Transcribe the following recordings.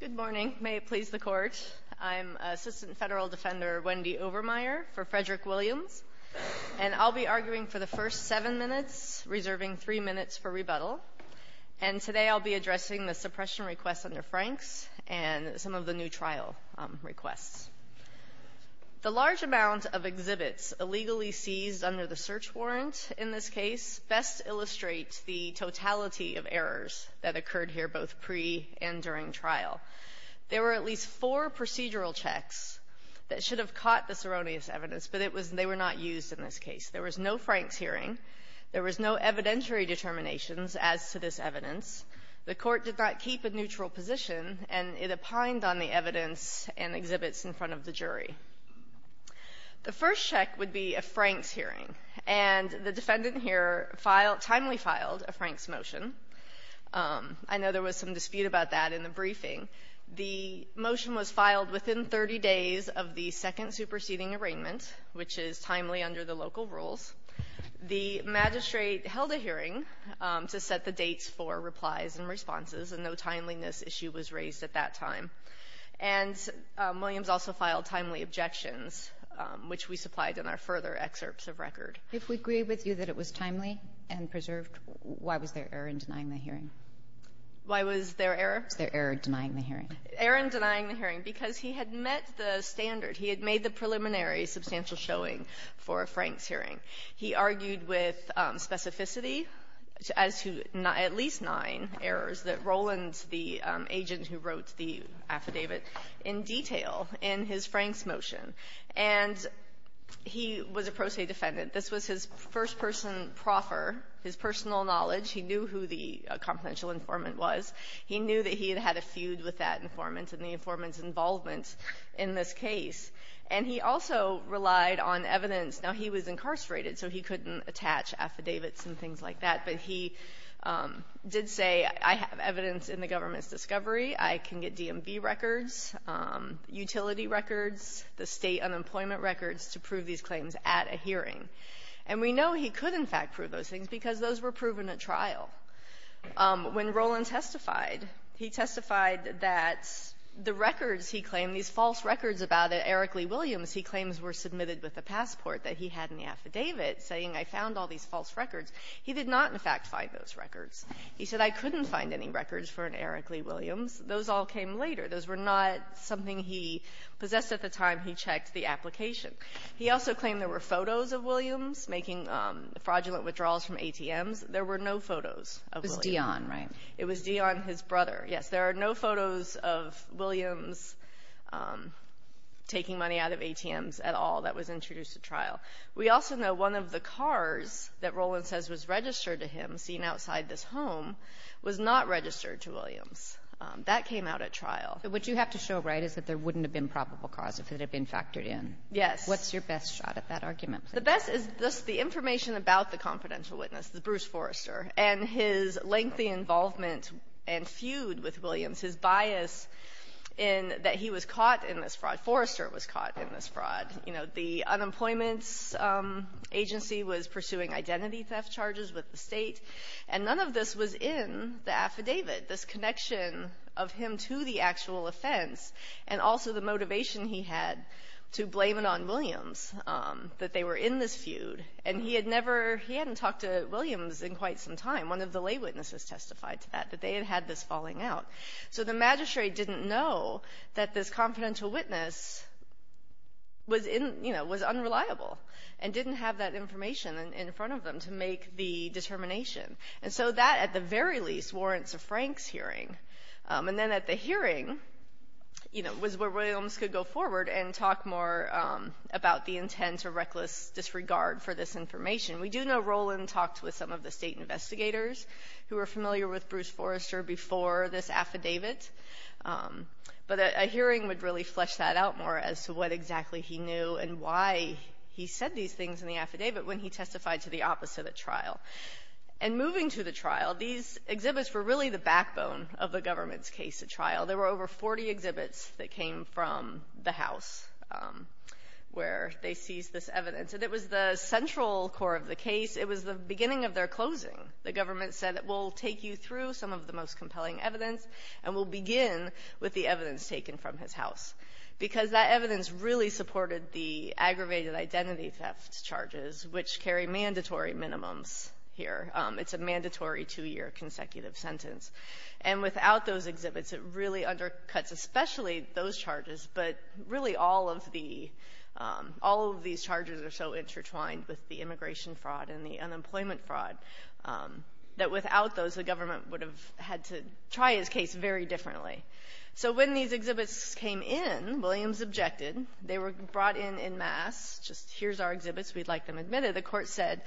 Good morning. May it please the court, I'm Assistant Federal Defender Wendy Overmeyer for Frederick Williams, and I'll be arguing for the first seven minutes, reserving three minutes for rebuttal. And today I'll be addressing the suppression requests under Franks and some of the new trial requests. The large amount of exhibits illegally seized under the search warrant in this case best illustrates the totality of errors that occurred here both pre- and during trial. There were at least four procedural checks that should have caught this erroneous evidence, but it was they were not used in this case. There was no Franks hearing. There was no evidentiary determinations as to this evidence. The court did not keep a neutral position, and it opined on the evidence and exhibits in front of the jury. The first check would be a Franks hearing, and the defendant here timely filed a Franks motion. I know there was some dispute about that in the briefing. The motion was filed within 30 days of the second superseding arraignment, which is timely under the local rules. The magistrate held a hearing to set the dates for replies and also filed timely objections, which we supplied in our further excerpts of record. Kagan. If we agree with you that it was timely and preserved, why was there error in denying the hearing? Why was there error? Was there error denying the hearing? Error in denying the hearing, because he had met the standard. He had made the preliminary substantial showing for a Franks hearing. He argued with specificity as to not at least nine errors that Roland, the agent who wrote the affidavit, in detail. And he argued in his Franks motion. And he was a pro se defendant. This was his first person proffer, his personal knowledge. He knew who the confidential informant was. He knew that he had had a feud with that informant and the informant's involvement in this case. And he also relied on evidence. Now, he was incarcerated, so he couldn't attach affidavits and things like that. But he did say, I have evidence in the government's discovery. I can get DMV records, utility records, the State unemployment records, to prove these claims at a hearing. And we know he could, in fact, prove those things because those were proven at trial. When Roland testified, he testified that the records he claimed, these false records about Eric Lee Williams, he claims were submitted with a passport that he had in the affidavit saying, I found all these false records. He did not, in fact, find those records. He said, I couldn't find any records for an Eric Lee Williams. Those all came later. Those were not something he possessed at the time he checked the application. He also claimed there were photos of Williams making fraudulent withdrawals from ATMs. There were no photos of Williams. It was Dion, right? It was Dion, his brother. Yes. There are no photos of Williams taking money out of ATMs at all that was introduced at trial. We also know one of the cars that Roland says was That came out at trial. But what you have to show, right, is that there wouldn't have been probable cause if it had been factored in. Yes. What's your best shot at that argument? The best is just the information about the confidential witness, the Bruce Forrester, and his lengthy involvement and feud with Williams, his bias in that he was caught in this fraud. Forrester was caught in this fraud. You know, the unemployment agency was pursuing identity theft charges with the State, and none of this was in the affidavit, this connection of him to the actual offense, and also the motivation he had to blame it on Williams, that they were in this feud. And he had never, he hadn't talked to Williams in quite some time. One of the lay witnesses testified to that, that they had had this falling out. So the magistrate didn't know that this confidential witness was unreliable and didn't have that information in front of them to make the determination. And so that, at the very least, warrants a Franks hearing. And then at the hearing, you know, was where Williams could go forward and talk more about the intent or reckless disregard for this information. We do know Roland talked with some of the State investigators who were familiar with Bruce Forrester before this affidavit. But a hearing would really flesh that out more as to what exactly he knew and why he said these things in the affidavit when he testified to the opposite at trial. And moving to the trial, these exhibits were really the backbone of the government's case at trial. There were over 40 exhibits that came from the House where they seized this evidence. And it was the central core of the case. It was the beginning of their closing. The government said, we'll take you through some of the most compelling evidence, and we'll begin with the evidence taken from his house. Because that evidence really surveyed identity theft charges, which carry mandatory minimums here. It's a mandatory two-year consecutive sentence. And without those exhibits, it really undercuts especially those charges, but really all of these charges are so intertwined with the immigration fraud and the unemployment fraud, that without those, the government would have had to try his case very differently. So when these exhibits came in, Williams objected. They were brought in en masse, just, here's our exhibits, we'd like them admitted. The court said,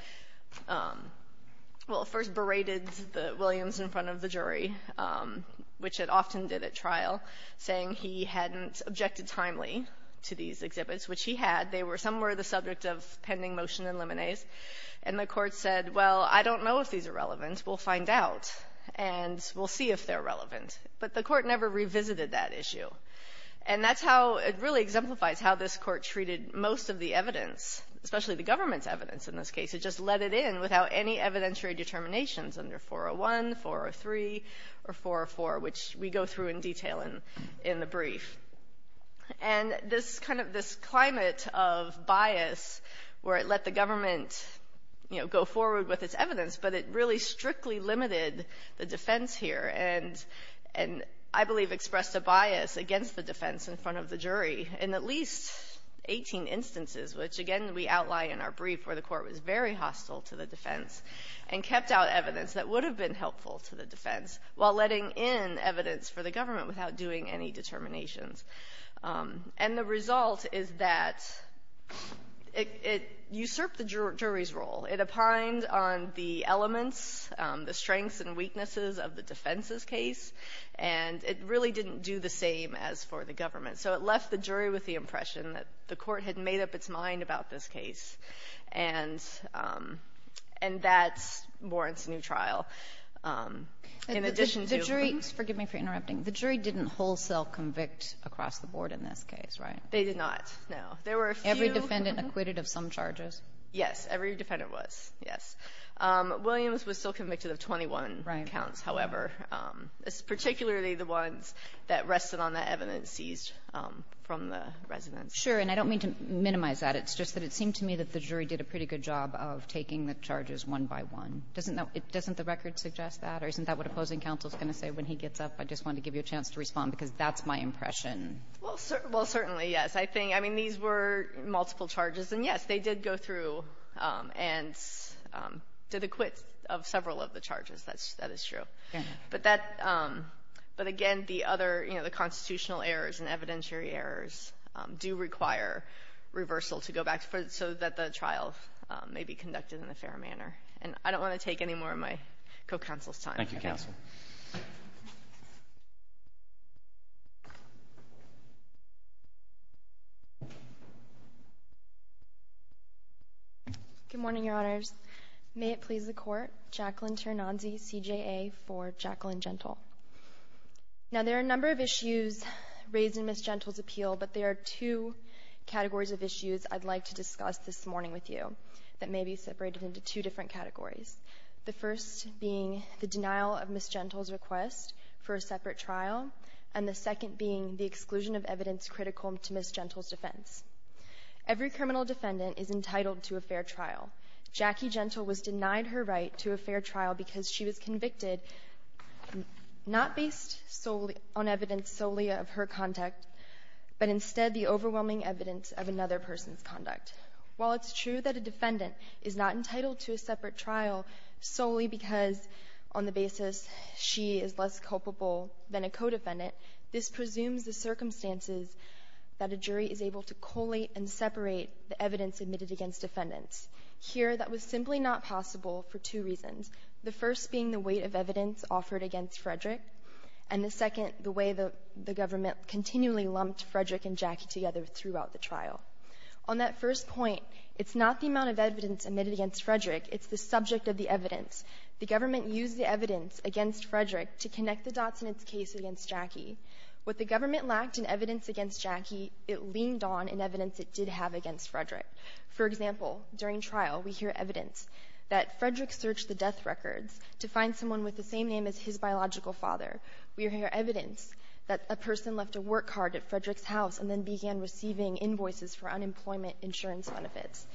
well, first berated Williams in front of the jury, which it often did at trial, saying he hadn't objected timely to these exhibits, which he had. They were somewhere the subject of pending motion and liminese. And the court said, well, I don't know if these are relevant. We'll find out. And we'll see if they're relevant. But the court never exemplifies how this court treated most of the evidence, especially the government's evidence in this case. It just let it in without any evidentiary determinations under 401, 403, or 404, which we go through in detail in the brief. And this kind of, this climate of bias, where it let the government, you know, go forward with its evidence, but it really strictly limited the defense here. And I believe expressed a bias against the government in at least 18 instances, which, again, we outline in our brief where the court was very hostile to the defense and kept out evidence that would have been helpful to the defense, while letting in evidence for the government without doing any determinations. And the result is that it usurped the jury's role. It opined on the elements, the strengths and weaknesses of the defense's case. And it really didn't do the same as for the government. So it left the jury with the impression that the court had made up its mind about this case. And that warrants a new trial. In addition to... The jury, forgive me for interrupting, the jury didn't wholesale convict across the board in this case, right? They did not, no. There were a few... Every defendant acquitted of some charges? Yes, every defendant was, yes. Williams was still convicted of 21 counts, however. Particularly the ones that rested on the evidence seized from the residents. Sure. And I don't mean to minimize that. It's just that it seemed to me that the jury did a pretty good job of taking the charges one by one. Doesn't the record suggest that? Or isn't that what opposing counsel is going to say when he gets up? I just wanted to give you a chance to respond because that's my impression. Well, certainly, yes. I mean, these were multiple charges. And yes, they did go through and did acquit of several of the charges. That is true. But again, the other constitutional errors and evidentiary errors do require reversal to go back so that the trial may be conducted in a fair manner. And I don't want to take any more of my co-counsel's time. Thank you, counsel. Good morning, Your Honors. May it please the Court, Jacqueline Ternanzi, CJA for Jacqueline Gentle. Now, there are a number of issues raised in Ms. Gentle's appeal, but there are two categories of issues I'd like to discuss this morning with you that may be separated into two different categories, the first being the denial of Ms. Gentle's request for a separate trial and the second being the exclusion of evidence critical to Ms. Gentle's defense. Every criminal defendant is entitled to a fair trial. Jackie Gentle was denied her right to a fair trial because she was convicted not based solely on evidence solely of her conduct, but instead the overwhelming evidence of another person's conduct. While it's true that a defendant is not entitled to a separate trial solely because on the basis she is less culpable than a co-defendant, this presumes the circumstances that a jury is able to collate and separate the evidence admitted against defendants. Here, that was simply not possible for two reasons, the first being the weight of evidence offered against Frederick and the second, the way the government continually lumped Frederick and Jackie together throughout the trial. On that first point, it's not the amount of evidence admitted against Frederick, it's the subject of the evidence. The government used the evidence against Frederick to connect the dots in its case against Jackie. What the government lacked in evidence against Jackie, it leaned on in evidence it did have against Frederick. For example, during trial we hear evidence that Frederick searched the death records to find someone with the same name as his biological father. We hear evidence that a person left a work card at Frederick's house and then began receiving invoices for unemployment insurance benefits.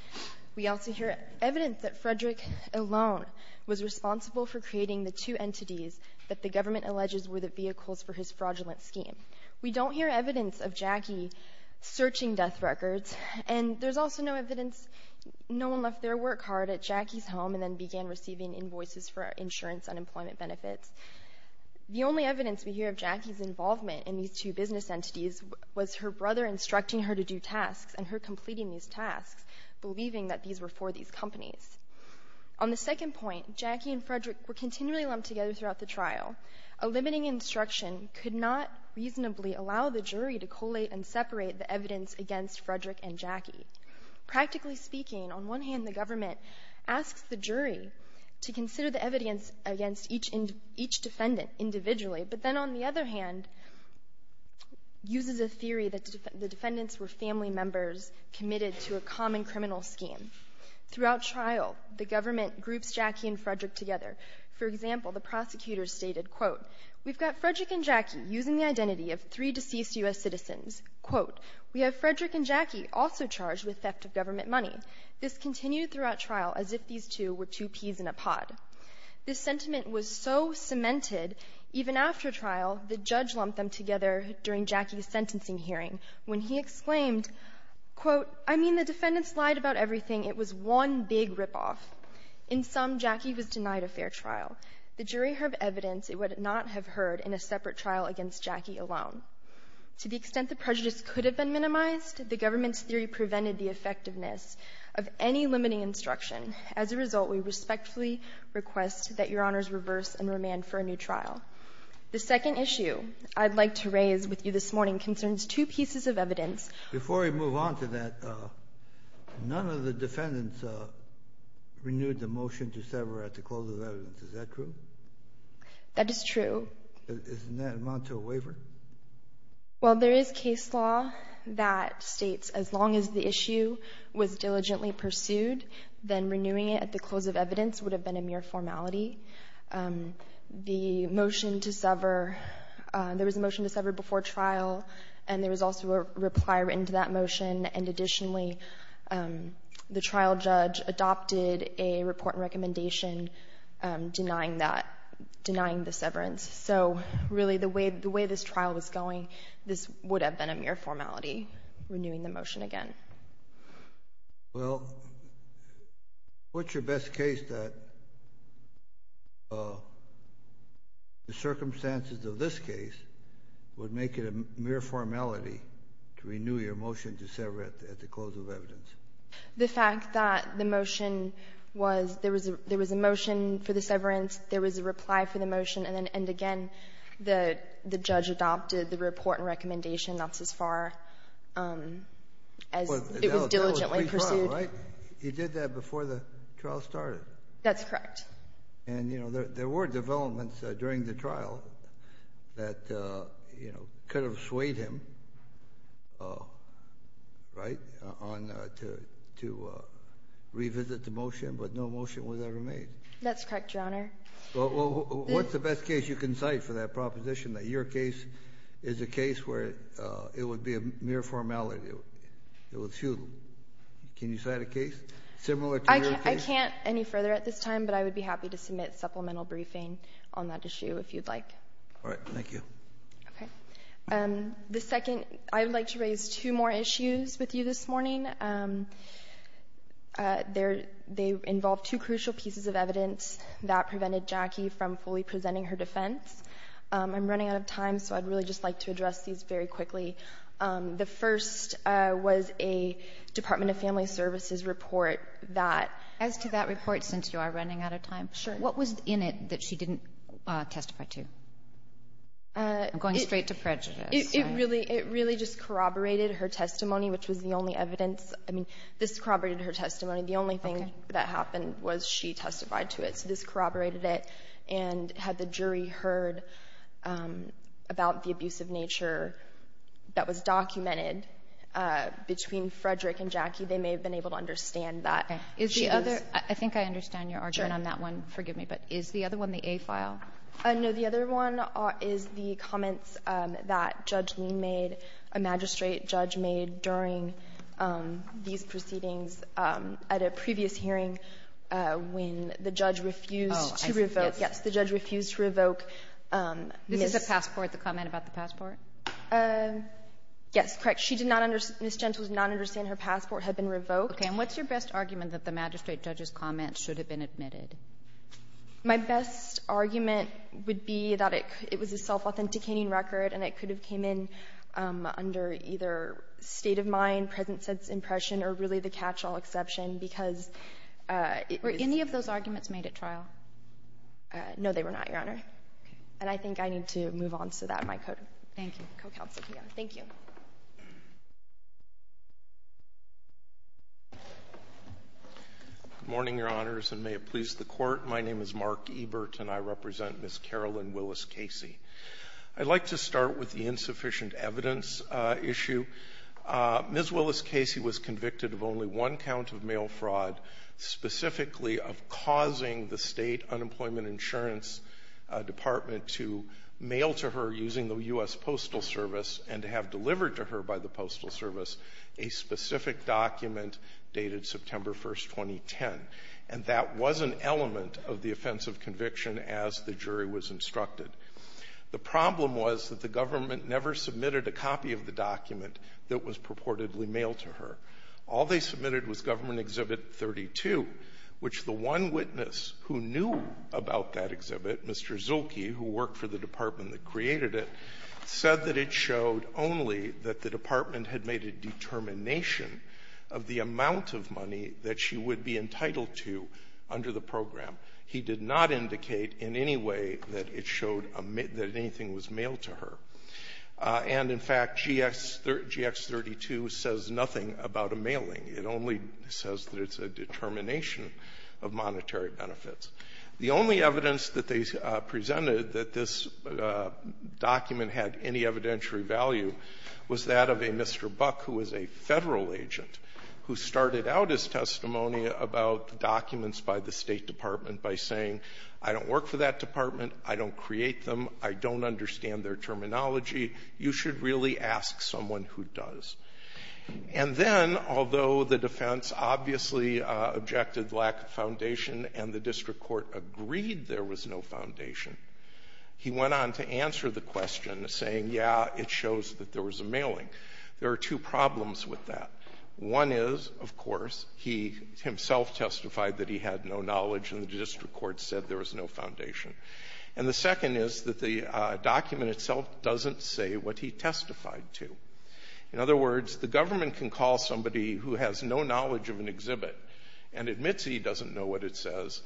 We also hear evidence that Frederick alone was responsible for creating the two entities that the government alleges were the vehicles for his fraudulent scheme. We don't hear evidence of Jackie searching death records and there's also no evidence no one left their work card at Jackie's home and then began receiving invoices for insurance unemployment benefits. The only evidence we hear is her brother instructing her to do tasks and her completing these tasks, believing that these were for these companies. On the second point, Jackie and Frederick were continually lumped together throughout the trial. A limiting instruction could not reasonably allow the jury to collate and separate the evidence against Frederick and Jackie. Practically speaking, on one hand the government asks the jury to consider the evidence against each defendant individually, but then on the other hand uses a theory that the defendants were family members committed to a common criminal scheme. Throughout trial, the government groups Jackie and Frederick together. For example, the prosecutors stated, quote, we've got Frederick and Jackie using the identity of three deceased U.S. citizens. Quote, we have Frederick and Jackie also charged with theft of government money. This continued throughout trial as if these two were two peas in a pod. This sentiment was so cemented even after trial, the judge lumped them together during Jackie's sentencing hearing when he exclaimed, quote, I mean the defendants lied about everything. It was one big ripoff. In sum, Jackie was denied a fair trial. The jury heard evidence it would not have heard in a separate trial against Jackie alone. To the extent the prejudice could have been minimized, the government's theory prevented the effectiveness of any limiting instruction. As a result, we respectfully request that your honors reverse and remand for a new trial. The second issue I'd like to raise with you this morning concerns two pieces of evidence. Before we move on to that, none of the defendants renewed the motion to sever at the close of evidence. Is that true? That is true. Isn't that an amount to a waiver? Well, there is case law that states as long as the issue was diligently pursued, then renewing it at the close of evidence would have been a mere formality. The motion to sever, there was a motion to sever before trial and there was also a reply written to that motion and additionally, the trial judge adopted a report and recommendation denying that, denying the severance. So really, the way this trial was going, this would have been a mere formality, renewing the motion again. Well, what's your best case that the circumstances of this case would make it a mere formality to renew your motion to sever at the close of evidence? The fact that the motion was, there was a motion for the severance, there was a reply for the motion and then again, the judge adopted the report and recommendation, that's as far as it was diligently pursued. That was pre-trial, right? You did that before the trial started? That's correct. And you know, there were developments during the trial that, you know, could have swayed him, right, on to revisit the motion, but no motion was ever made. That's correct, Your Honor. Well, what's the best case you can cite for that proposition that your case is a case where it would be a mere formality? It was few. Can you cite a case similar to your case? I can't any further at this time, but I would be happy to submit supplemental briefing on that issue if you'd like. All right. Thank you. Okay. The second, I would like to raise two more issues with you this morning. They involve two crucial pieces of evidence that prevented Jackie from fully presenting her defense. I'm running out of time, so I'd really just like to address these very quickly. The first was a Department of Family Services report that... As to that report, since you are running out of time... Sure. What was in it that she didn't testify to? I'm going straight to prejudice. It really just corroborated her testimony, which was the only evidence. I mean, this corroborated her testimony. The only thing that happened was she testified to it. So this corroborated it, and had the jury heard about the abuse of nature that was documented between Frederick and Jackie, they may have been able to understand that. Okay. Is the other... I think I understand your argument on that one. Forgive me, but is the other one the A file? No. The other one is the comments that Judge Lean made, a magistrate judge made during these proceedings at a previous hearing when the judge refused to revoke... Oh, I see. Yes. Yes. The judge refused to revoke Ms.... This is a passport, the comment about the passport? Yes. Correct. She did not understand, Ms. Gentle did not understand her passport had been revoked. Okay. And what's your best argument that the magistrate judge's comments should have been admitted? My best argument would be that it was a self-authenticating record, and it could have came in under either state-of-mind, present-sense impression, or really the catch-all exception, because it was... Were any of those arguments made at trial? No, they were not, Your Honor. Okay. And I think I need to move on so that my co-counsel can go. Thank you. Thank you. Good morning, Your Honors, and may it please the court. My name is Mark Ebert, and I represent Ms. Carolyn Willis Casey. I'd like to start with the insufficient evidence issue. Ms. Willis Casey was convicted of only one count of mail fraud, specifically of causing the State Unemployment Insurance Department to mail to her using the U.S. Postal Service and to have delivered to her by the Postal Service a specific document dated September 1, 2010. And that was an element of the offense of conviction as the jury was instructed. The problem was that the government never submitted a copy of the document that was purportedly mailed to her. All they submitted was Government Exhibit 32, which the one witness who knew about that said that it showed only that the department had made a determination of the amount of money that she would be entitled to under the program. He did not indicate in any way that it showed that anything was mailed to her. And, in fact, GX 32 says nothing about a mailing. It only says that it's a determination of monetary benefits. The only evidence that they presented that this document had any evidentiary value was that of a Mr. Buck, who was a Federal agent, who started out his testimony about documents by the State Department by saying, I don't work for that department, I don't create them, I don't understand their terminology, you should really ask someone who does. And then, although the defense obviously objected lack of foundation and the district court agreed there was no foundation, he went on to answer the question saying, yeah, it shows that there was a mailing. There are two problems with that. One is, of course, he himself testified that he had no knowledge and the district court said there was no foundation. And the second is that the document itself doesn't say what he testified to. In other words, the government can call somebody who has no knowledge of an exhibit and admits he doesn't know what it says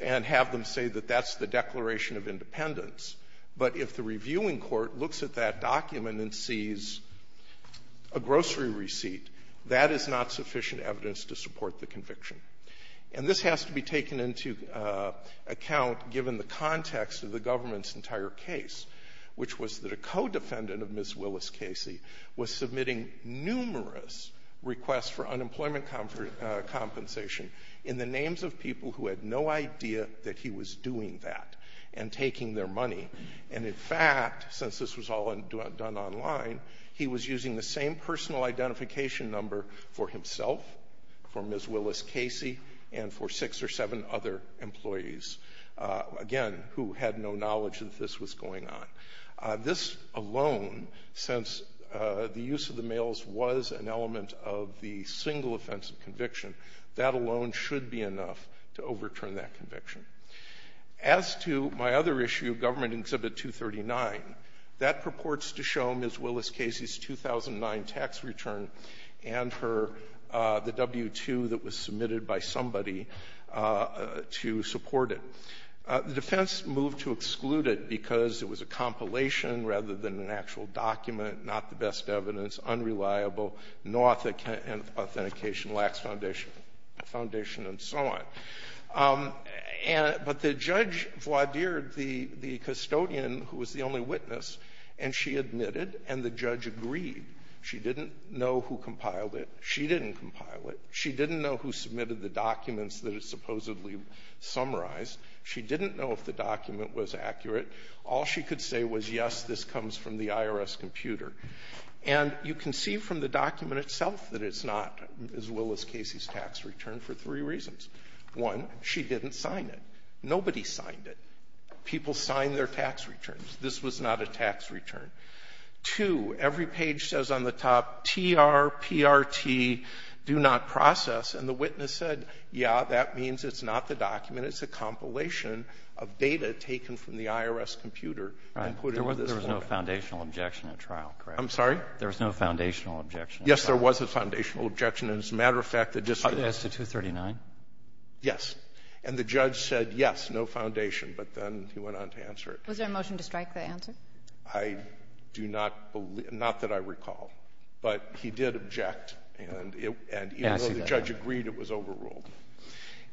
and have them say that that's the Declaration of Independence, but if the reviewing court looks at that document and sees a grocery receipt, that is not sufficient evidence to support the conviction. And this has to be taken into account given the context of the government's entire case, which was that a co-defendant of Ms. Willis Casey was submitting numerous requests for unemployment compensation in the names of people who had no idea that he was doing that and taking their money. And in fact, since this was all done online, he was using the same personal identification number for himself, for Ms. Willis Casey, and for six or seven other employees, again, who had no knowledge that this was going on. This alone, since the use of the mails was an element of the single offensive conviction, that alone should be enough to overturn that conviction. As to my other issue, Government Exhibit 239, that purports to show Ms. Willis Casey's 2009 tax return and her the W-2 that was submitted by somebody to support it. The defense moved to exclude it because it was a compilation rather than an actual document, not the best evidence, unreliable, no authentication, lacks foundation, and so on. But the judge voir dired the custodian, who was the only witness, and she admitted and the judge agreed. She didn't know who compiled it. She didn't compile it. She didn't know who submitted the documents that it supposedly summarized. She didn't know if the document was accurate. All she could say was, yes, this comes from the IRS computer. And you can see from the document itself that it's not Ms. Willis Casey's tax return for three reasons. One, she didn't sign it. Nobody signed it. People signed their tax returns. This was not a tax return. Two, every page says on the top, TR, PRT, do not process. And the witness said, yeah, that means it's not the document. It's a compilation of data taken from the IRS computer and put into this one. Roberts. There was no foundational objection at trial, correct? I'm sorry? There was no foundational objection. Yes, there was a foundational objection. As a matter of fact, the district. As to 239? Yes. And the judge said, yes, no foundation. But then he went on to answer it. Was there a motion to strike the answer? I do not believe. Not that I recall. But he did object. And even though the judge agreed, it was overruled.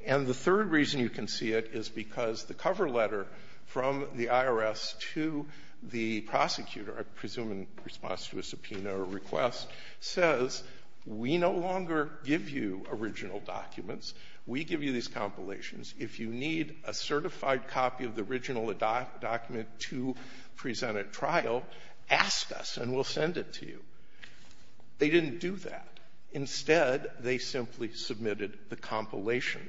And the third reason you can see it is because the cover letter from the IRS to the prosecutor, I presume in response to a subpoena or request, says we no longer give you original documents. We give you these compilations. If you need a certified copy of the original document to present at trial, ask us and we'll send it to you. They didn't do that. Instead, they simply submitted the compilation.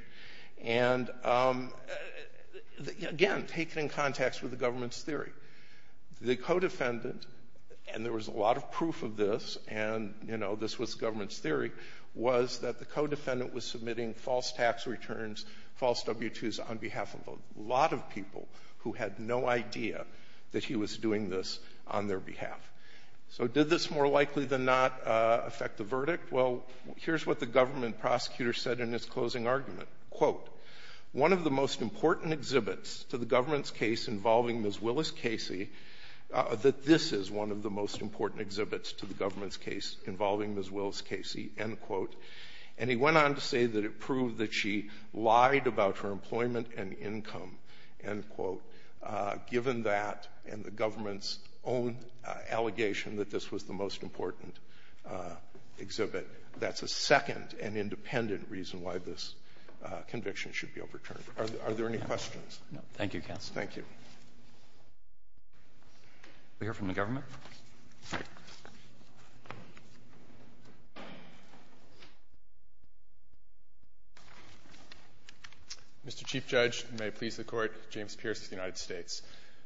And, again, take it in context with the government's theory. The co-defendant, and there was a lot of proof of this, and, you know, this was government's tax returns, false W-2s on behalf of a lot of people who had no idea that he was doing this on their behalf. So did this more likely than not affect the verdict? Well, here's what the government prosecutor said in his closing argument. Quote, one of the most important exhibits to the government's case involving Ms. Willis Casey, that this is one of the most important exhibits to the government's case involving Ms. Willis Casey, end quote. And he went on to say that it proved that she lied about her employment and income, end quote, given that and the government's own allegation that this was the most important exhibit. That's a second and independent reason why this conviction should be overturned. Are there any questions? No. Thank you, counsel. Thank you. We'll hear from the government. Mr. Chief Judge, and may it please the Court, James Pierce of the United States.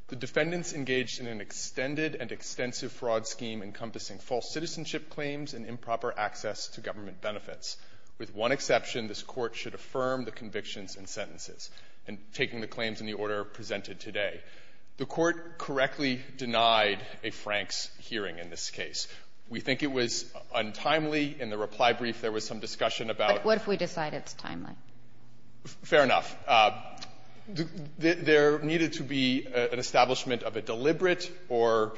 The defendants engaged in an extended and extensive fraud scheme encompassing false citizenship claims and improper access to government benefits. With one exception, this Court should affirm the convictions and sentences, and taking the claims in the order presented today. The Court correctly denied a Franks hearing in this case. We think it was untimely. In the reply brief, there was some discussion about the ---- But what if we decide it's timely? Fair enough. There needed to be an establishment of a deliberate or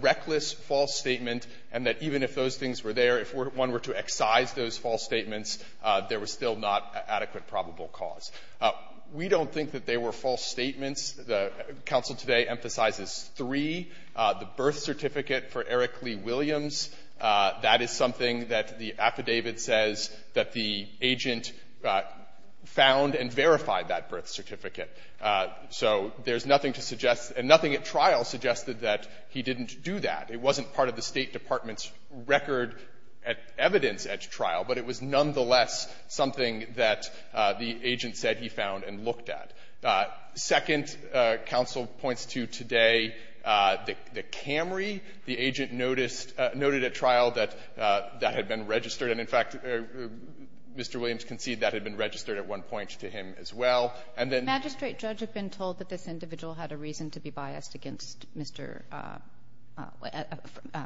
reckless false statement, and that even if those things were there, if one were to excise those false statements, there was still not adequate probable cause. We don't think that they were false statements. The counsel today emphasizes three. The birth certificate for Eric Lee Williams, that is something that the affidavit says that the agent found and verified that birth certificate. So there's nothing to suggest, and nothing at trial suggested that he didn't do that. It wasn't part of the State Department's record at evidence at trial, but it was nonetheless something that the agent said he found and looked at. Second, counsel points to today the Camry. The agent noticed at trial that that had been registered. And, in fact, Mr. Williams conceded that had been registered at one point to him as well, and then ---- Magistrate judge had been told that this individual had a reason to be biased against Mr.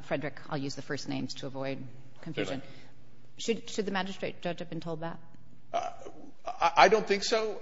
Frederick. I'll use the first names to avoid confusion. Fair enough. Should the magistrate judge have been told that? I don't think so.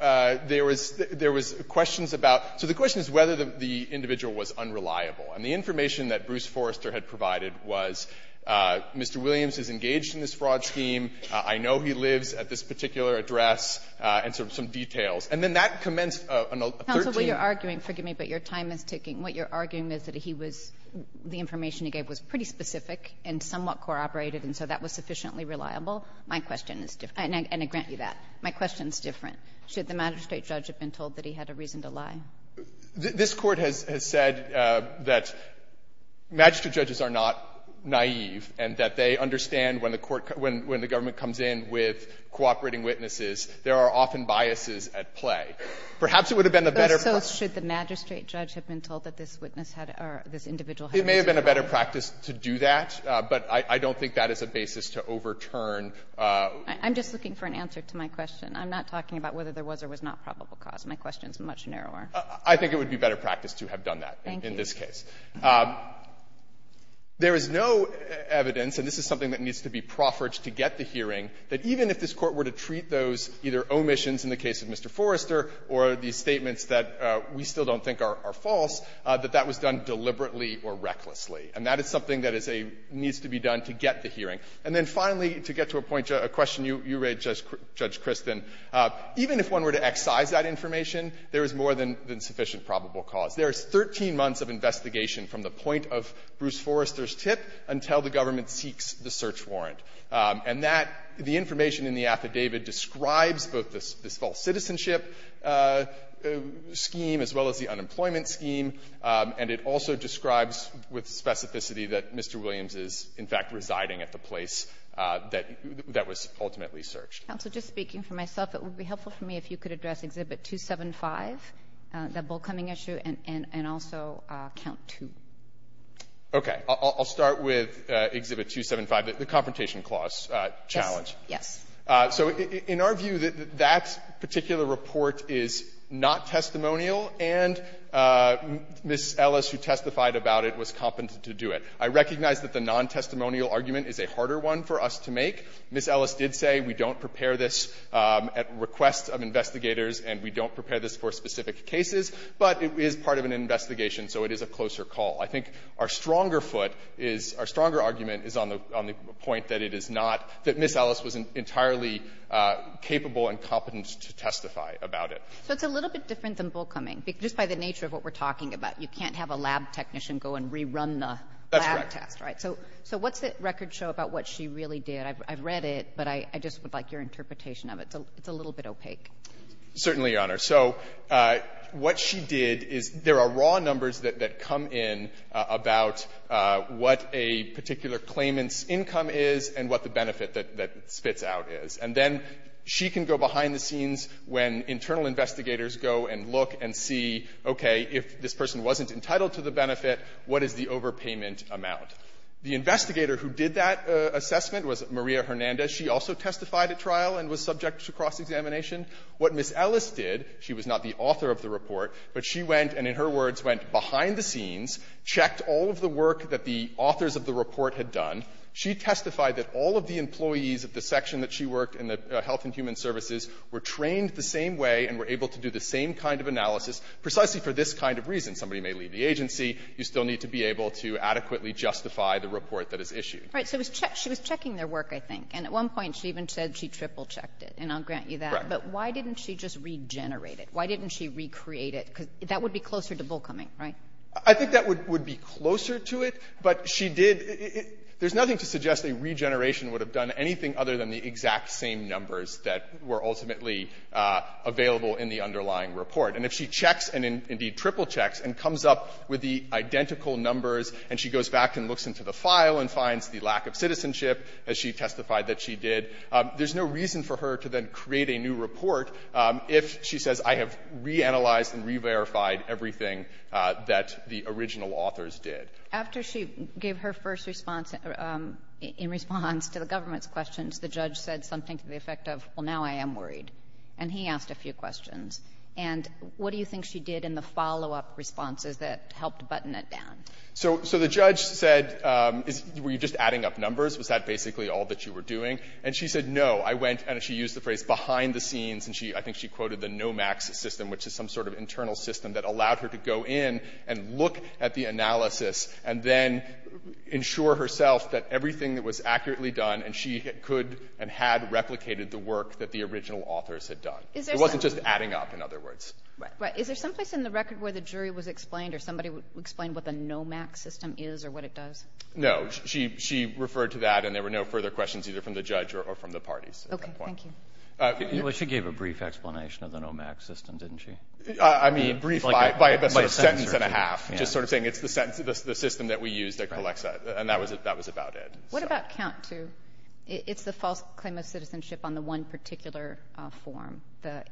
There was questions about ---- so the question is whether the individual was unreliable. And the information that Bruce Forrester had provided was, Mr. Williams is engaged in this fraud scheme. I know he lives at this particular address, and sort of some details. And then that commenced on a 13th ---- Counsel, what you're arguing ---- forgive me, but your time is ticking. What you're arguing is that he was ---- the information he gave was pretty specific and somewhat corroborated, and so that was sufficiently reliable. My question is different. And I grant you that. My question is different. Should the magistrate judge have been told that he had a reason to lie? This Court has said that magistrate judges are not naive and that they understand when the court ---- when the government comes in with cooperating witnesses, there are often biases at play. Perhaps it would have been a better ---- had a reason to lie? It may have been a better practice to do that, but I don't think that is a basis to overturn. I'm just looking for an answer to my question. I'm not talking about whether there was or was not probable cause. My question is much narrower. I think it would be better practice to have done that in this case. Thank you. There is no evidence, and this is something that needs to be proffered to get the hearing, that even if this Court were to treat those either omissions in the case of Mr. Forrester or these statements that we still don't think are false, that that was done deliberately or recklessly. And that is something that is a ---- needs to be done to get the hearing. And then finally, to get to a point ---- a question you raised, Judge ---- Judge Kristin, even if one were to excise that information, there is more than ---- than sufficient probable cause. There is 13 months of investigation from the point of Bruce Forrester's tip until the government seeks the search warrant. And that ---- the information in the affidavit describes both this ---- this false with specificity that Mr. Williams is, in fact, residing at the place that was ultimately searched. Counsel, just speaking for myself, it would be helpful for me if you could address Exhibit 275, the bull coming issue, and also Count 2. Okay. I'll start with Exhibit 275, the confrontation clause challenge. Yes. So in our view, that particular report is not testimonial. And Ms. Ellis, who testified about it, was competent to do it. I recognize that the non-testimonial argument is a harder one for us to make. Ms. Ellis did say we don't prepare this at request of investigators and we don't prepare this for specific cases. But it is part of an investigation, so it is a closer call. I think our stronger foot is ---- our stronger argument is on the point that it is not ---- that Ms. Ellis was entirely capable and competent to testify about it. So it's a little bit different than bull coming, just by the nature of what we're talking about. You can't have a lab technician go and rerun the lab test. That's correct. Right. So what's the record show about what she really did? I've read it, but I just would like your interpretation of it. It's a little bit opaque. Certainly, Your Honor. So what she did is there are raw numbers that come in about what a particular claimant's income is and what the benefit that spits out is. And then she can go behind the scenes when internal investigators go and look and see, okay, if this person wasn't entitled to the benefit, what is the overpayment amount? The investigator who did that assessment was Maria Hernandez. She also testified at trial and was subject to cross-examination. What Ms. Ellis did, she was not the author of the report, but she went and, in her words, went behind the scenes, checked all of the work that the authors of the report had done. She testified that all of the employees of the section that she worked in the Health and Human Services were trained the same way and were able to do the same kind of analysis. Precisely for this kind of reason, somebody may leave the agency, you still need to be able to adequately justify the report that is issued. Right. So she was checking their work, I think. And at one point, she even said she triple-checked it, and I'll grant you that. Right. But why didn't she just regenerate it? Why didn't she recreate it? Because that would be closer to bull coming, right? I think that would be closer to it, but she did — there's nothing to suggest a regeneration would have done anything other than the exact same numbers that were ultimately available in the underlying report. And if she checks, and indeed triple-checks, and comes up with the identical numbers, and she goes back and looks into the file and finds the lack of citizenship, as she testified that she did, there's no reason for her to then create a new report if, she says, I have reanalyzed and reverified everything that the original authors did. After she gave her first response in response to the government's questions, the judge said something to the effect of, well, now I am worried. And he asked a few questions. And what do you think she did in the follow-up responses that helped button it down? So the judge said, were you just adding up numbers? Was that basically all that you were doing? And she said, no. I went — and she used the phrase behind the scenes, and I think she quoted the NOMAX system, which is some sort of internal system that allowed her to go in and look at the analysis and then ensure herself that everything that was accurately done, and she could and had replicated the work that the original authors had done. It wasn't just adding up, in other words. Right. Is there someplace in the record where the jury was explained or somebody explained what the NOMAX system is or what it does? No. She referred to that, and there were no further questions either from the judge or from the parties at that point. Okay. Thank you. Well, she gave a brief explanation of the NOMAX system, didn't she? I mean, brief by a sentence and a half, just sort of saying it's the system that we use that collects that. Right. And that was about it. What about COUNT II? It's the false claim of citizenship on the one particular form, the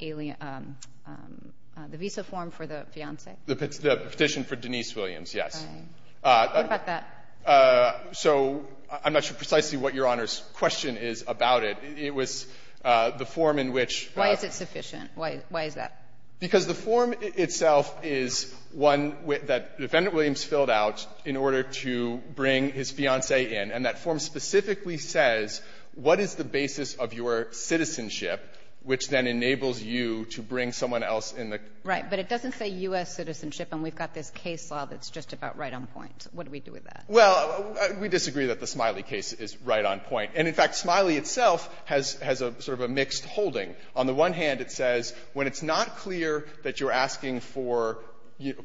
visa form for the fiancé. The petition for Denise Williams, yes. Right. What about that? So I'm not sure precisely what Your Honor's question is about it. It was the form in which the ---- Why is it sufficient? Why is that? Because the form itself is one that Defendant Williams filled out in order to bring his fiancé in, and that form specifically says what is the basis of your citizenship, which then enables you to bring someone else in the ---- Right. But it doesn't say U.S. citizenship, and we've got this case law that's just about right on point. What do we do with that? Well, we disagree that the Smiley case is right on point. And in fact, Smiley itself has a sort of a mixed holding. On the one hand, it says when it's not clear that you're asking for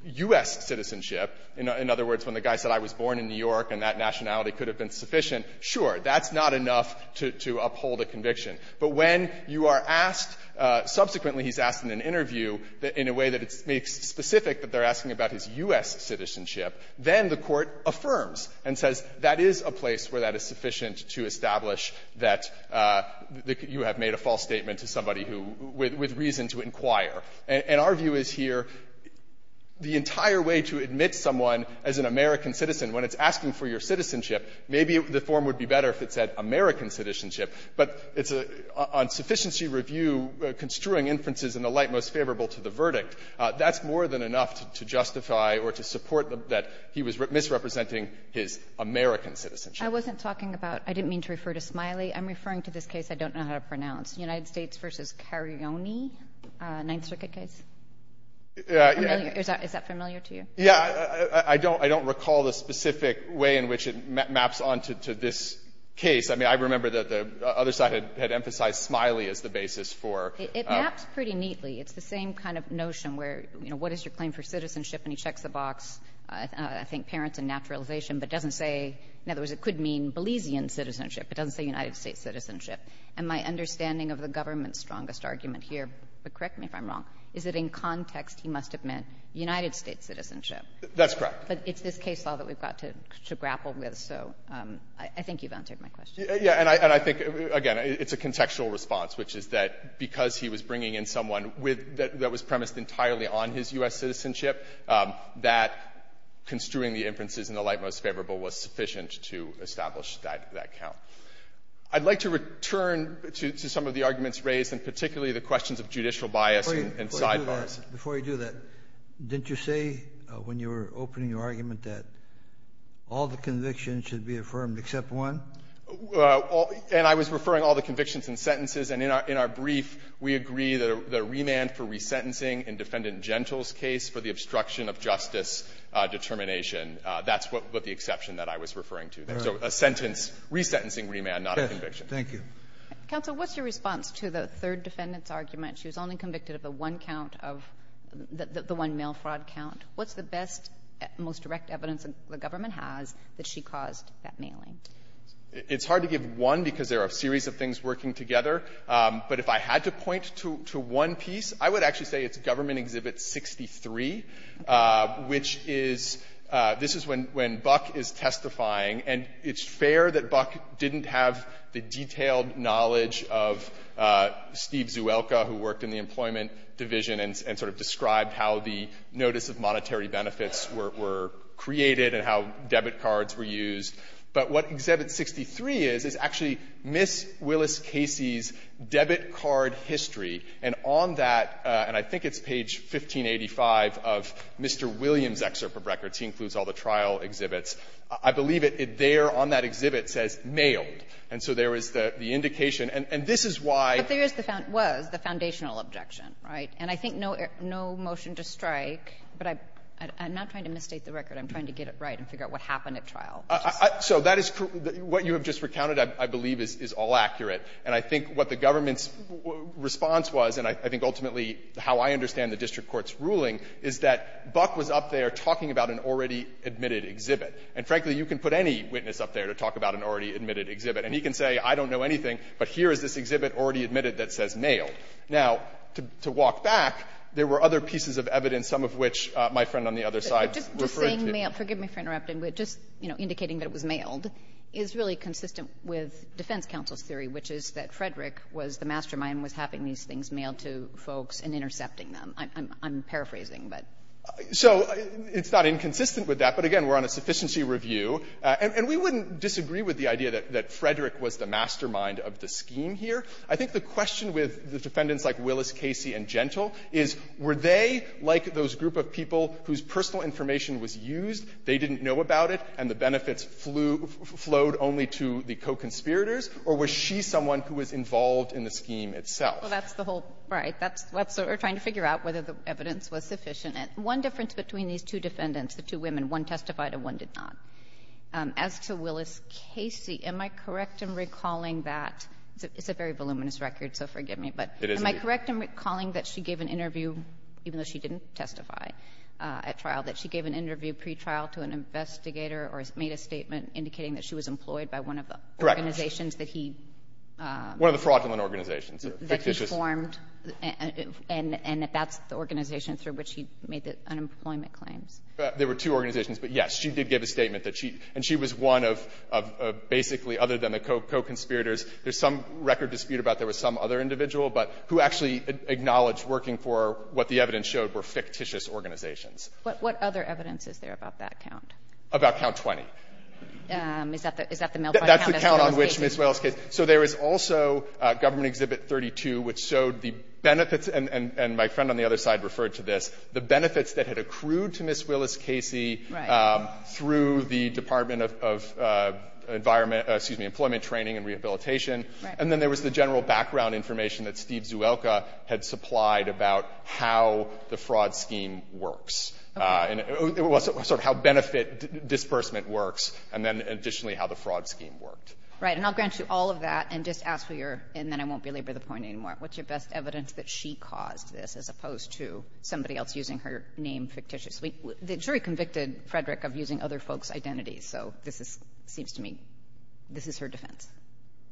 U.S. citizenship, in other words, when the guy said I was born in New York and that nationality could have been sufficient, sure, that's not enough to uphold a conviction. But when you are asked, subsequently he's asked in an interview, in a way that it's specific that they're asking about his U.S. citizenship, then the Court affirms and says that is a place where that is sufficient to establish that you have made a false statement to somebody who ---- with reason to inquire. And our view is here the entire way to admit someone as an American citizen, when it's asking for your citizenship, maybe the form would be better if it said American citizenship, but it's a ---- on sufficiency review, construing inferences in the light most favorable to the verdict, that's more than enough to justify or to support that he was misrepresenting his American citizenship. I wasn't talking about ---- I didn't mean to refer to Smiley. I'm referring to this case. I don't know how to pronounce. United States v. Carione, Ninth Circuit case? Yeah. Is that familiar to you? Yeah. I don't recall the specific way in which it maps on to this case. I mean, I remember that the other side had emphasized Smiley as the basis for ---- It maps pretty neatly. It's the same kind of notion where, you know, what is your claim for citizenship? And he checks the box, I think, parents and naturalization, but doesn't say ---- in other words, it could mean Belizean citizenship. It doesn't say United States citizenship. And my understanding of the government's strongest argument here, but correct me if I'm wrong, is that in context he must have meant United States citizenship. That's correct. But it's this case law that we've got to grapple with. So I think you've answered my question. Yeah. And I think, again, it's a contextual response, which is that because he was bringing in someone with ---- that was premised entirely on his U.S. citizenship, that construing the inferences in the light most favorable was sufficient to establish that count. I'd like to return to some of the arguments raised, and particularly the questions of judicial bias and sidebars. Before you do that, didn't you say when you were opening your argument that all the convictions should be affirmed except one? And I was referring all the convictions and sentences. And in our brief, we agree that a remand for resentencing in Defendant Gentile's case for the obstruction of justice determination, that's what the exception that I was referring to. So a sentence, resentencing remand, not a conviction. Thank you. Counsel, what's your response to the third defendant's argument? She was only convicted of the one count of the one mail fraud count. What's the best, most direct evidence the government has that she caused that mailing? It's hard to give one because there are a series of things working together. But if I had to point to one piece, I would actually say it's Government Exhibit 63, which is ---- this is when Buck is testifying. And it's fair that Buck didn't have the detailed knowledge of Steve Zuelka, who worked in the Employment Division, and sort of described how the notice of monetary benefits were created and how debit cards were used. But what Exhibit 63 is, is actually Ms. Willis Casey's debit card history. And on that, and I think it's page 1585 of Mr. Williams' excerpt of records, he includes all the trial exhibits, I believe it there on that exhibit says, mailed. And so there is the indication. And this is why ---- But there is the ---- was the foundational objection, right? And I think no motion to strike, but I'm not trying to misstate the record. I'm trying to get it right and figure out what happened at trial. So that is ---- what you have just recounted, I believe, is all accurate. And I think what the government's response was, and I think ultimately how I understand the district court's ruling, is that Buck was up there talking about an already admitted exhibit. And frankly, you can put any witness up there to talk about an already admitted exhibit. And he can say, I don't know anything, but here is this exhibit already admitted that says, mailed. Now, to walk back, there were other pieces of evidence, some of which my friend on the other side referred to. Forgive me for interrupting, but just, you know, indicating that it was mailed is really consistent with defense counsel's theory, which is that Frederick was the mastermind, was having these things mailed to folks and intercepting them. I'm paraphrasing, but ---- So it's not inconsistent with that, but again, we're on a sufficiency review. And we wouldn't disagree with the idea that Frederick was the mastermind of the scheme here. I think the question with the defendants like Willis, Casey, and Gentle is, were they, like those group of people whose personal information was used, they didn't know about it, and the benefits flew ---- flowed only to the co-conspirators, or was she someone who was involved in the scheme itself? Well, that's the whole ---- right. That's what we're trying to figure out, whether the evidence was sufficient. One difference between these two defendants, the two women, one testified and one did not. As to Willis, Casey, am I correct in recalling that ---- it's a very voluminous record, so forgive me, but am I correct in recalling that she gave an interview even though she didn't testify at trial, that she gave an interview pretrial to an investigator or made a statement indicating that she was employed by one of the organizations that he ---- One of the fraudulent organizations. That he formed, and that that's the organization through which he made the unemployment claims. There were two organizations, but, yes, she did give a statement that she ---- and she was one of basically, other than the co-conspirators, there's some record dispute about there was some other individual, but who actually acknowledged working for what the evidence showed were fictitious organizations. But what other evidence is there about that count? About count 20. Is that the ---- That's the count on which Ms. Willis, Casey ---- So there is also Government Exhibit 32, which showed the benefits, and my friend on the other side referred to this, the benefits that had accrued to Ms. Willis, Casey through the Department of Environment ---- excuse me, Employment Training and Rehabilitation. Right. And then there was the general background information that Steve Zuelka had supplied about how the fraud scheme works. And it was sort of how benefit disbursement works, and then additionally how the fraud scheme worked. Right. And I'll grant you all of that and just ask for your ---- and then I won't belabor the point anymore. What's your best evidence that she caused this as opposed to somebody else using her name fictitiously? The jury convicted Frederick of using other folks' identities, so this is ---- seems to me this is her defense.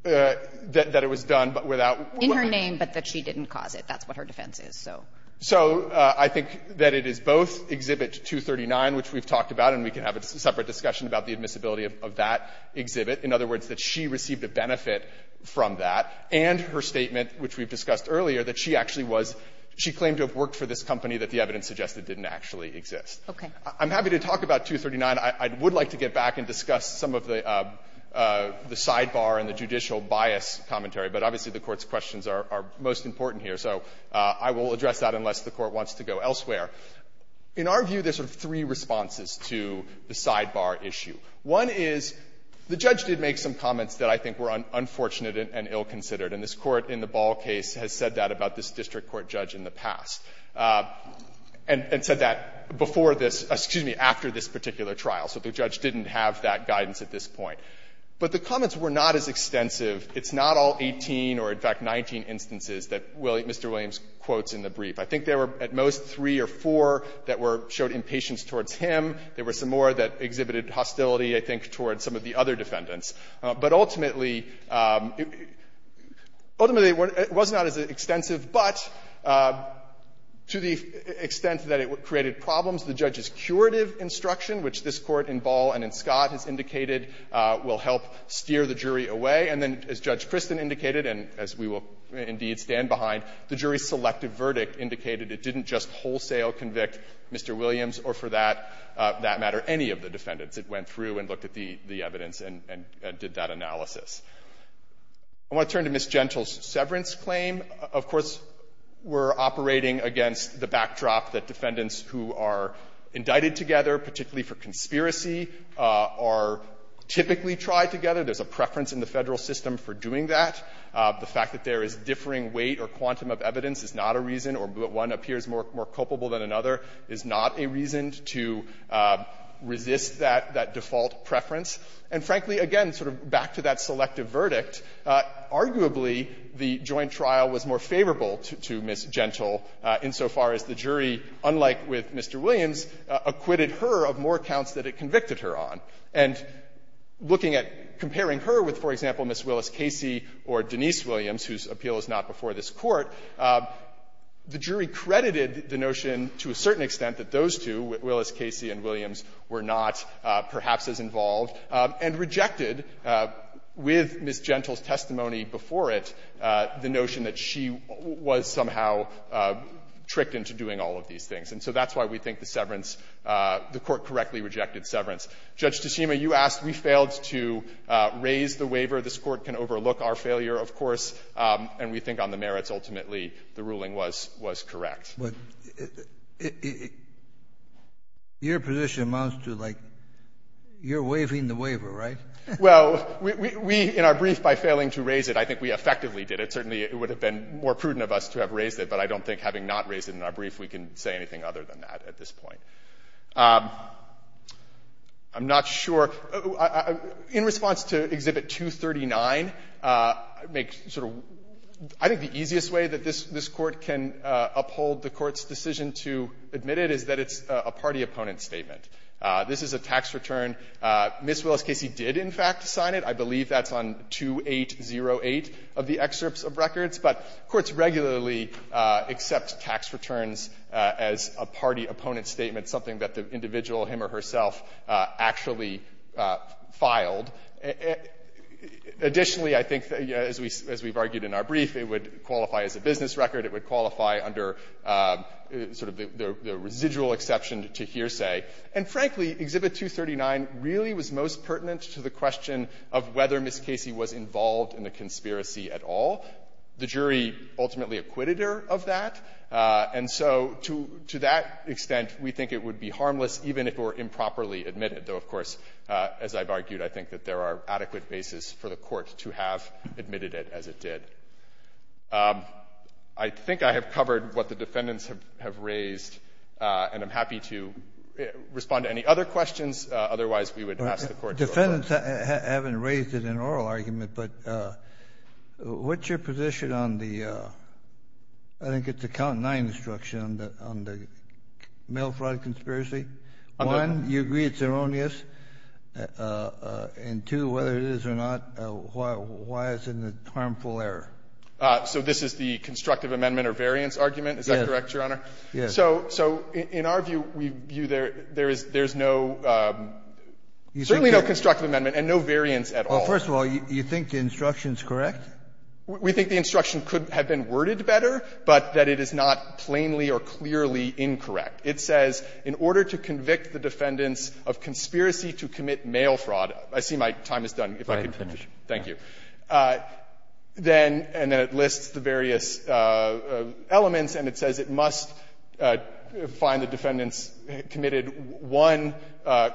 That it was done without ---- In her name, but that she didn't cause it. That's what her defense is, so. So I think that it is both Exhibit 239, which we've talked about, and we can have a separate discussion about the admissibility of that exhibit. In other words, that she received a benefit from that, and her statement, which we've discussed earlier, that she actually was ---- she claimed to have worked for this company that the evidence suggested didn't actually exist. Okay. I'm happy to talk about 239. I would like to get back and discuss some of the sidebar and the judicial bias commentary, but obviously the Court's questions are most important here, so I will address that unless the Court wants to go elsewhere. In our view, there's sort of three responses to the sidebar issue. One is the judge did make some comments that I think were unfortunate and ill-considered, and this Court in the Ball case has said that about this district court judge in the past, and said that before this ---- excuse me, after this particular trial, that the judge didn't have that guidance at this point. But the comments were not as extensive. It's not all 18 or, in fact, 19 instances that Mr. Williams quotes in the brief. I think there were at most three or four that were ---- showed impatience towards him. There were some more that exhibited hostility, I think, towards some of the other defendants. But ultimately, ultimately, it was not as extensive, but to the extent that it created problems, the judge's curative instruction, which this Court in Ball and in Scott has indicated will help steer the jury away, and then as Judge Kristen indicated and as we will indeed stand behind, the jury's selective verdict indicated it didn't just wholesale convict Mr. Williams or, for that matter, any of the defendants. It went through and looked at the evidence and did that analysis. I want to turn to Ms. Gentle's severance claim. Of course, we're operating against the backdrop that defendants who are indicted together, particularly for conspiracy, are typically tried together. There's a preference in the Federal system for doing that. The fact that there is differing weight or quantum of evidence is not a reason, or one appears more culpable than another, is not a reason to resist that default preference. And frankly, again, sort of back to that selective verdict, arguably, the joint trial was more favorable to Ms. Gentle insofar as the jury, unlike with Mr. Williams, acquitted her of more counts that it convicted her on. And looking at, comparing her with, for example, Ms. Willis-Casey or Denise Williams, whose appeal is not before this Court, the jury credited the notion to a certain extent that those two, Willis-Casey and Williams, were not perhaps as involved, and rejected with Ms. Gentle's testimony before it the notion that she had been convicted, that she was somehow tricked into doing all of these things. And so that's why we think the severance, the Court correctly rejected severance. Judge Tsushima, you asked, we failed to raise the waiver. This Court can overlook our failure, of course, and we think on the merits, ultimately, the ruling was, was correct. Kennedy, your position amounts to, like, you're waiving the waiver, right? Well, we, in our brief, by failing to raise it, I think we effectively did it. Certainly, it would have been more prudent of us to have raised it, but I don't think, having not raised it in our brief, we can say anything other than that at this point. I'm not sure. In response to Exhibit 239, make sort of — I think the easiest way that this Court can uphold the Court's decision to admit it is that it's a party-opponent statement. This is a tax return. Ms. Willis-Casey did, in fact, sign it. I believe that's on 2808 of the excerpts of records. But courts regularly accept tax returns as a party-opponent statement, something that the individual, him or herself, actually filed. Additionally, I think, as we've argued in our brief, it would qualify as a business record. It would qualify under sort of the residual exception to hearsay. And frankly, Exhibit 239 really was most pertinent to the question of whether Ms. Casey was involved in the conspiracy at all. The jury ultimately acquitted her of that. And so to that extent, we think it would be harmless, even if it were improperly admitted, though, of course, as I've argued, I think that there are adequate bases for the Court to have admitted it as it did. I think I have covered what the defendants have raised, and I'm happy to — I'm happy to respond to any other questions. Otherwise, we would ask the Court to approve it. Kennedy. Defendants haven't raised it in an oral argument, but what's your position on the — I think it's a count-nine instruction on the — on the mail fraud conspiracy? One, you agree it's erroneous, and two, whether it is or not, why isn't it a harmful error? So this is the constructive amendment or variance argument? Is that correct, Your Honor? Yes. So — so in our view, we view there — there is — there is no — certainly no constructive amendment and no variance at all. Well, first of all, you think the instruction's correct? We think the instruction could have been worded better, but that it is not plainly or clearly incorrect. It says, in order to convict the defendants of conspiracy to commit mail fraud — I see my time is done, if I can finish. Thank you. Then — and then it lists the various elements, and it says it must find the defendants committed one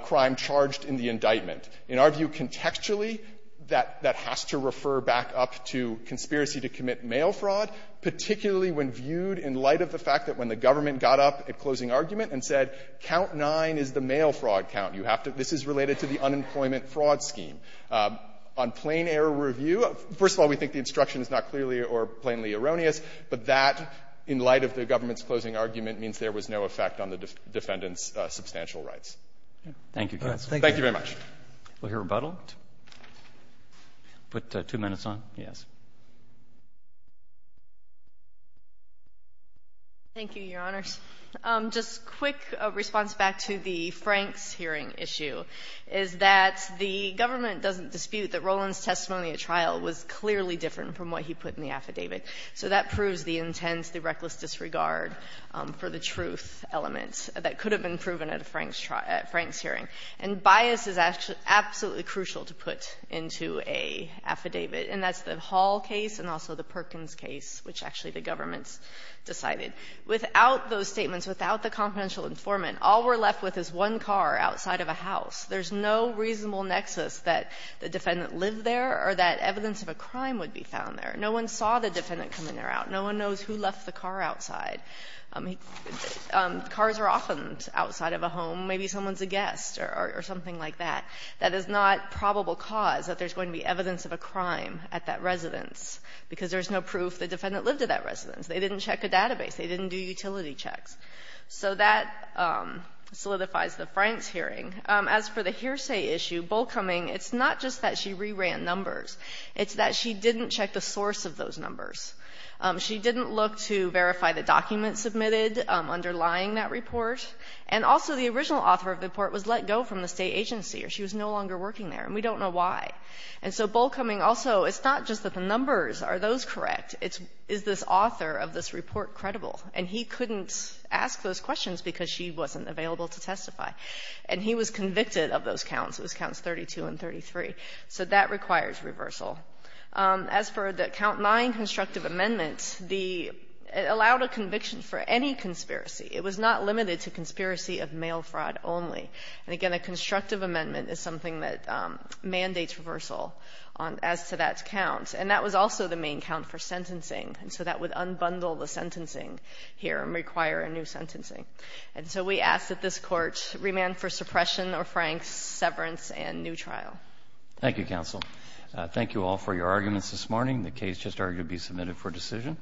crime charged in the indictment. In our view, contextually, that — that has to refer back up to conspiracy to commit mail fraud, particularly when viewed in light of the fact that when the government got up at closing argument and said, count-nine is the mail fraud count. You have to — this is related to the unemployment fraud scheme. On plain-error review, first of all, we think the instruction is not clearly or plainly erroneous, but that, in light of the government's closing argument, means there was no effect on the defendants' substantial rights. Thank you, counsel. Thank you very much. We'll hear rebuttal. Put two minutes on? Yes. Thank you, Your Honors. Just a quick response back to the Franks hearing issue, is that the government doesn't dispute that Roland's testimony at trial was clearly different from what he put in the affidavit, so that proves the intense, the reckless disregard for the truth element that could have been proven at a Franks hearing. And bias is absolutely crucial to put into an affidavit, and that's the Hall case and also the Perkins case, which actually the government's decided. Without those statements, without the confidential informant, all we're left with is one car outside of a house. There's no reasonable nexus that the defendant lived there or that evidence of a crime would be found there. No one saw the defendant come in or out. No one knows who left the car outside. Cars are often outside of a home. Maybe someone's a guest or something like that. That is not probable cause that there's going to be evidence of a crime at that residence because there's no proof the defendant lived at that residence. They didn't check a database. They didn't do utility checks. So that solidifies the Franks hearing. As for the hearsay issue, Bollcoming, it's not just that she re-ran numbers. It's that she didn't check the source of those numbers. She didn't look to verify the documents submitted underlying that report. And also the original author of the report was let go from the state agency or she was no longer working there, and we don't know why. And so Bollcoming also, it's not just that the numbers, are those correct? It's, is this author of this report credible? And he couldn't ask those questions because she wasn't available to testify. And he was convicted of those counts. It was counts 32 and 33. So that requires reversal. As for the count 9 constructive amendment, the, it allowed a conviction for any conspiracy. It was not limited to conspiracy of mail fraud only. And again, a constructive amendment is something that mandates reversal as to that count. And that was also the main count for sentencing. And so that would unbundle the sentencing here and require a new sentencing. And so we ask that this court remand for suppression or Franks severance and new trial. Thank you counsel. Thank you all for your arguments this morning. The case just argued to be submitted for decision.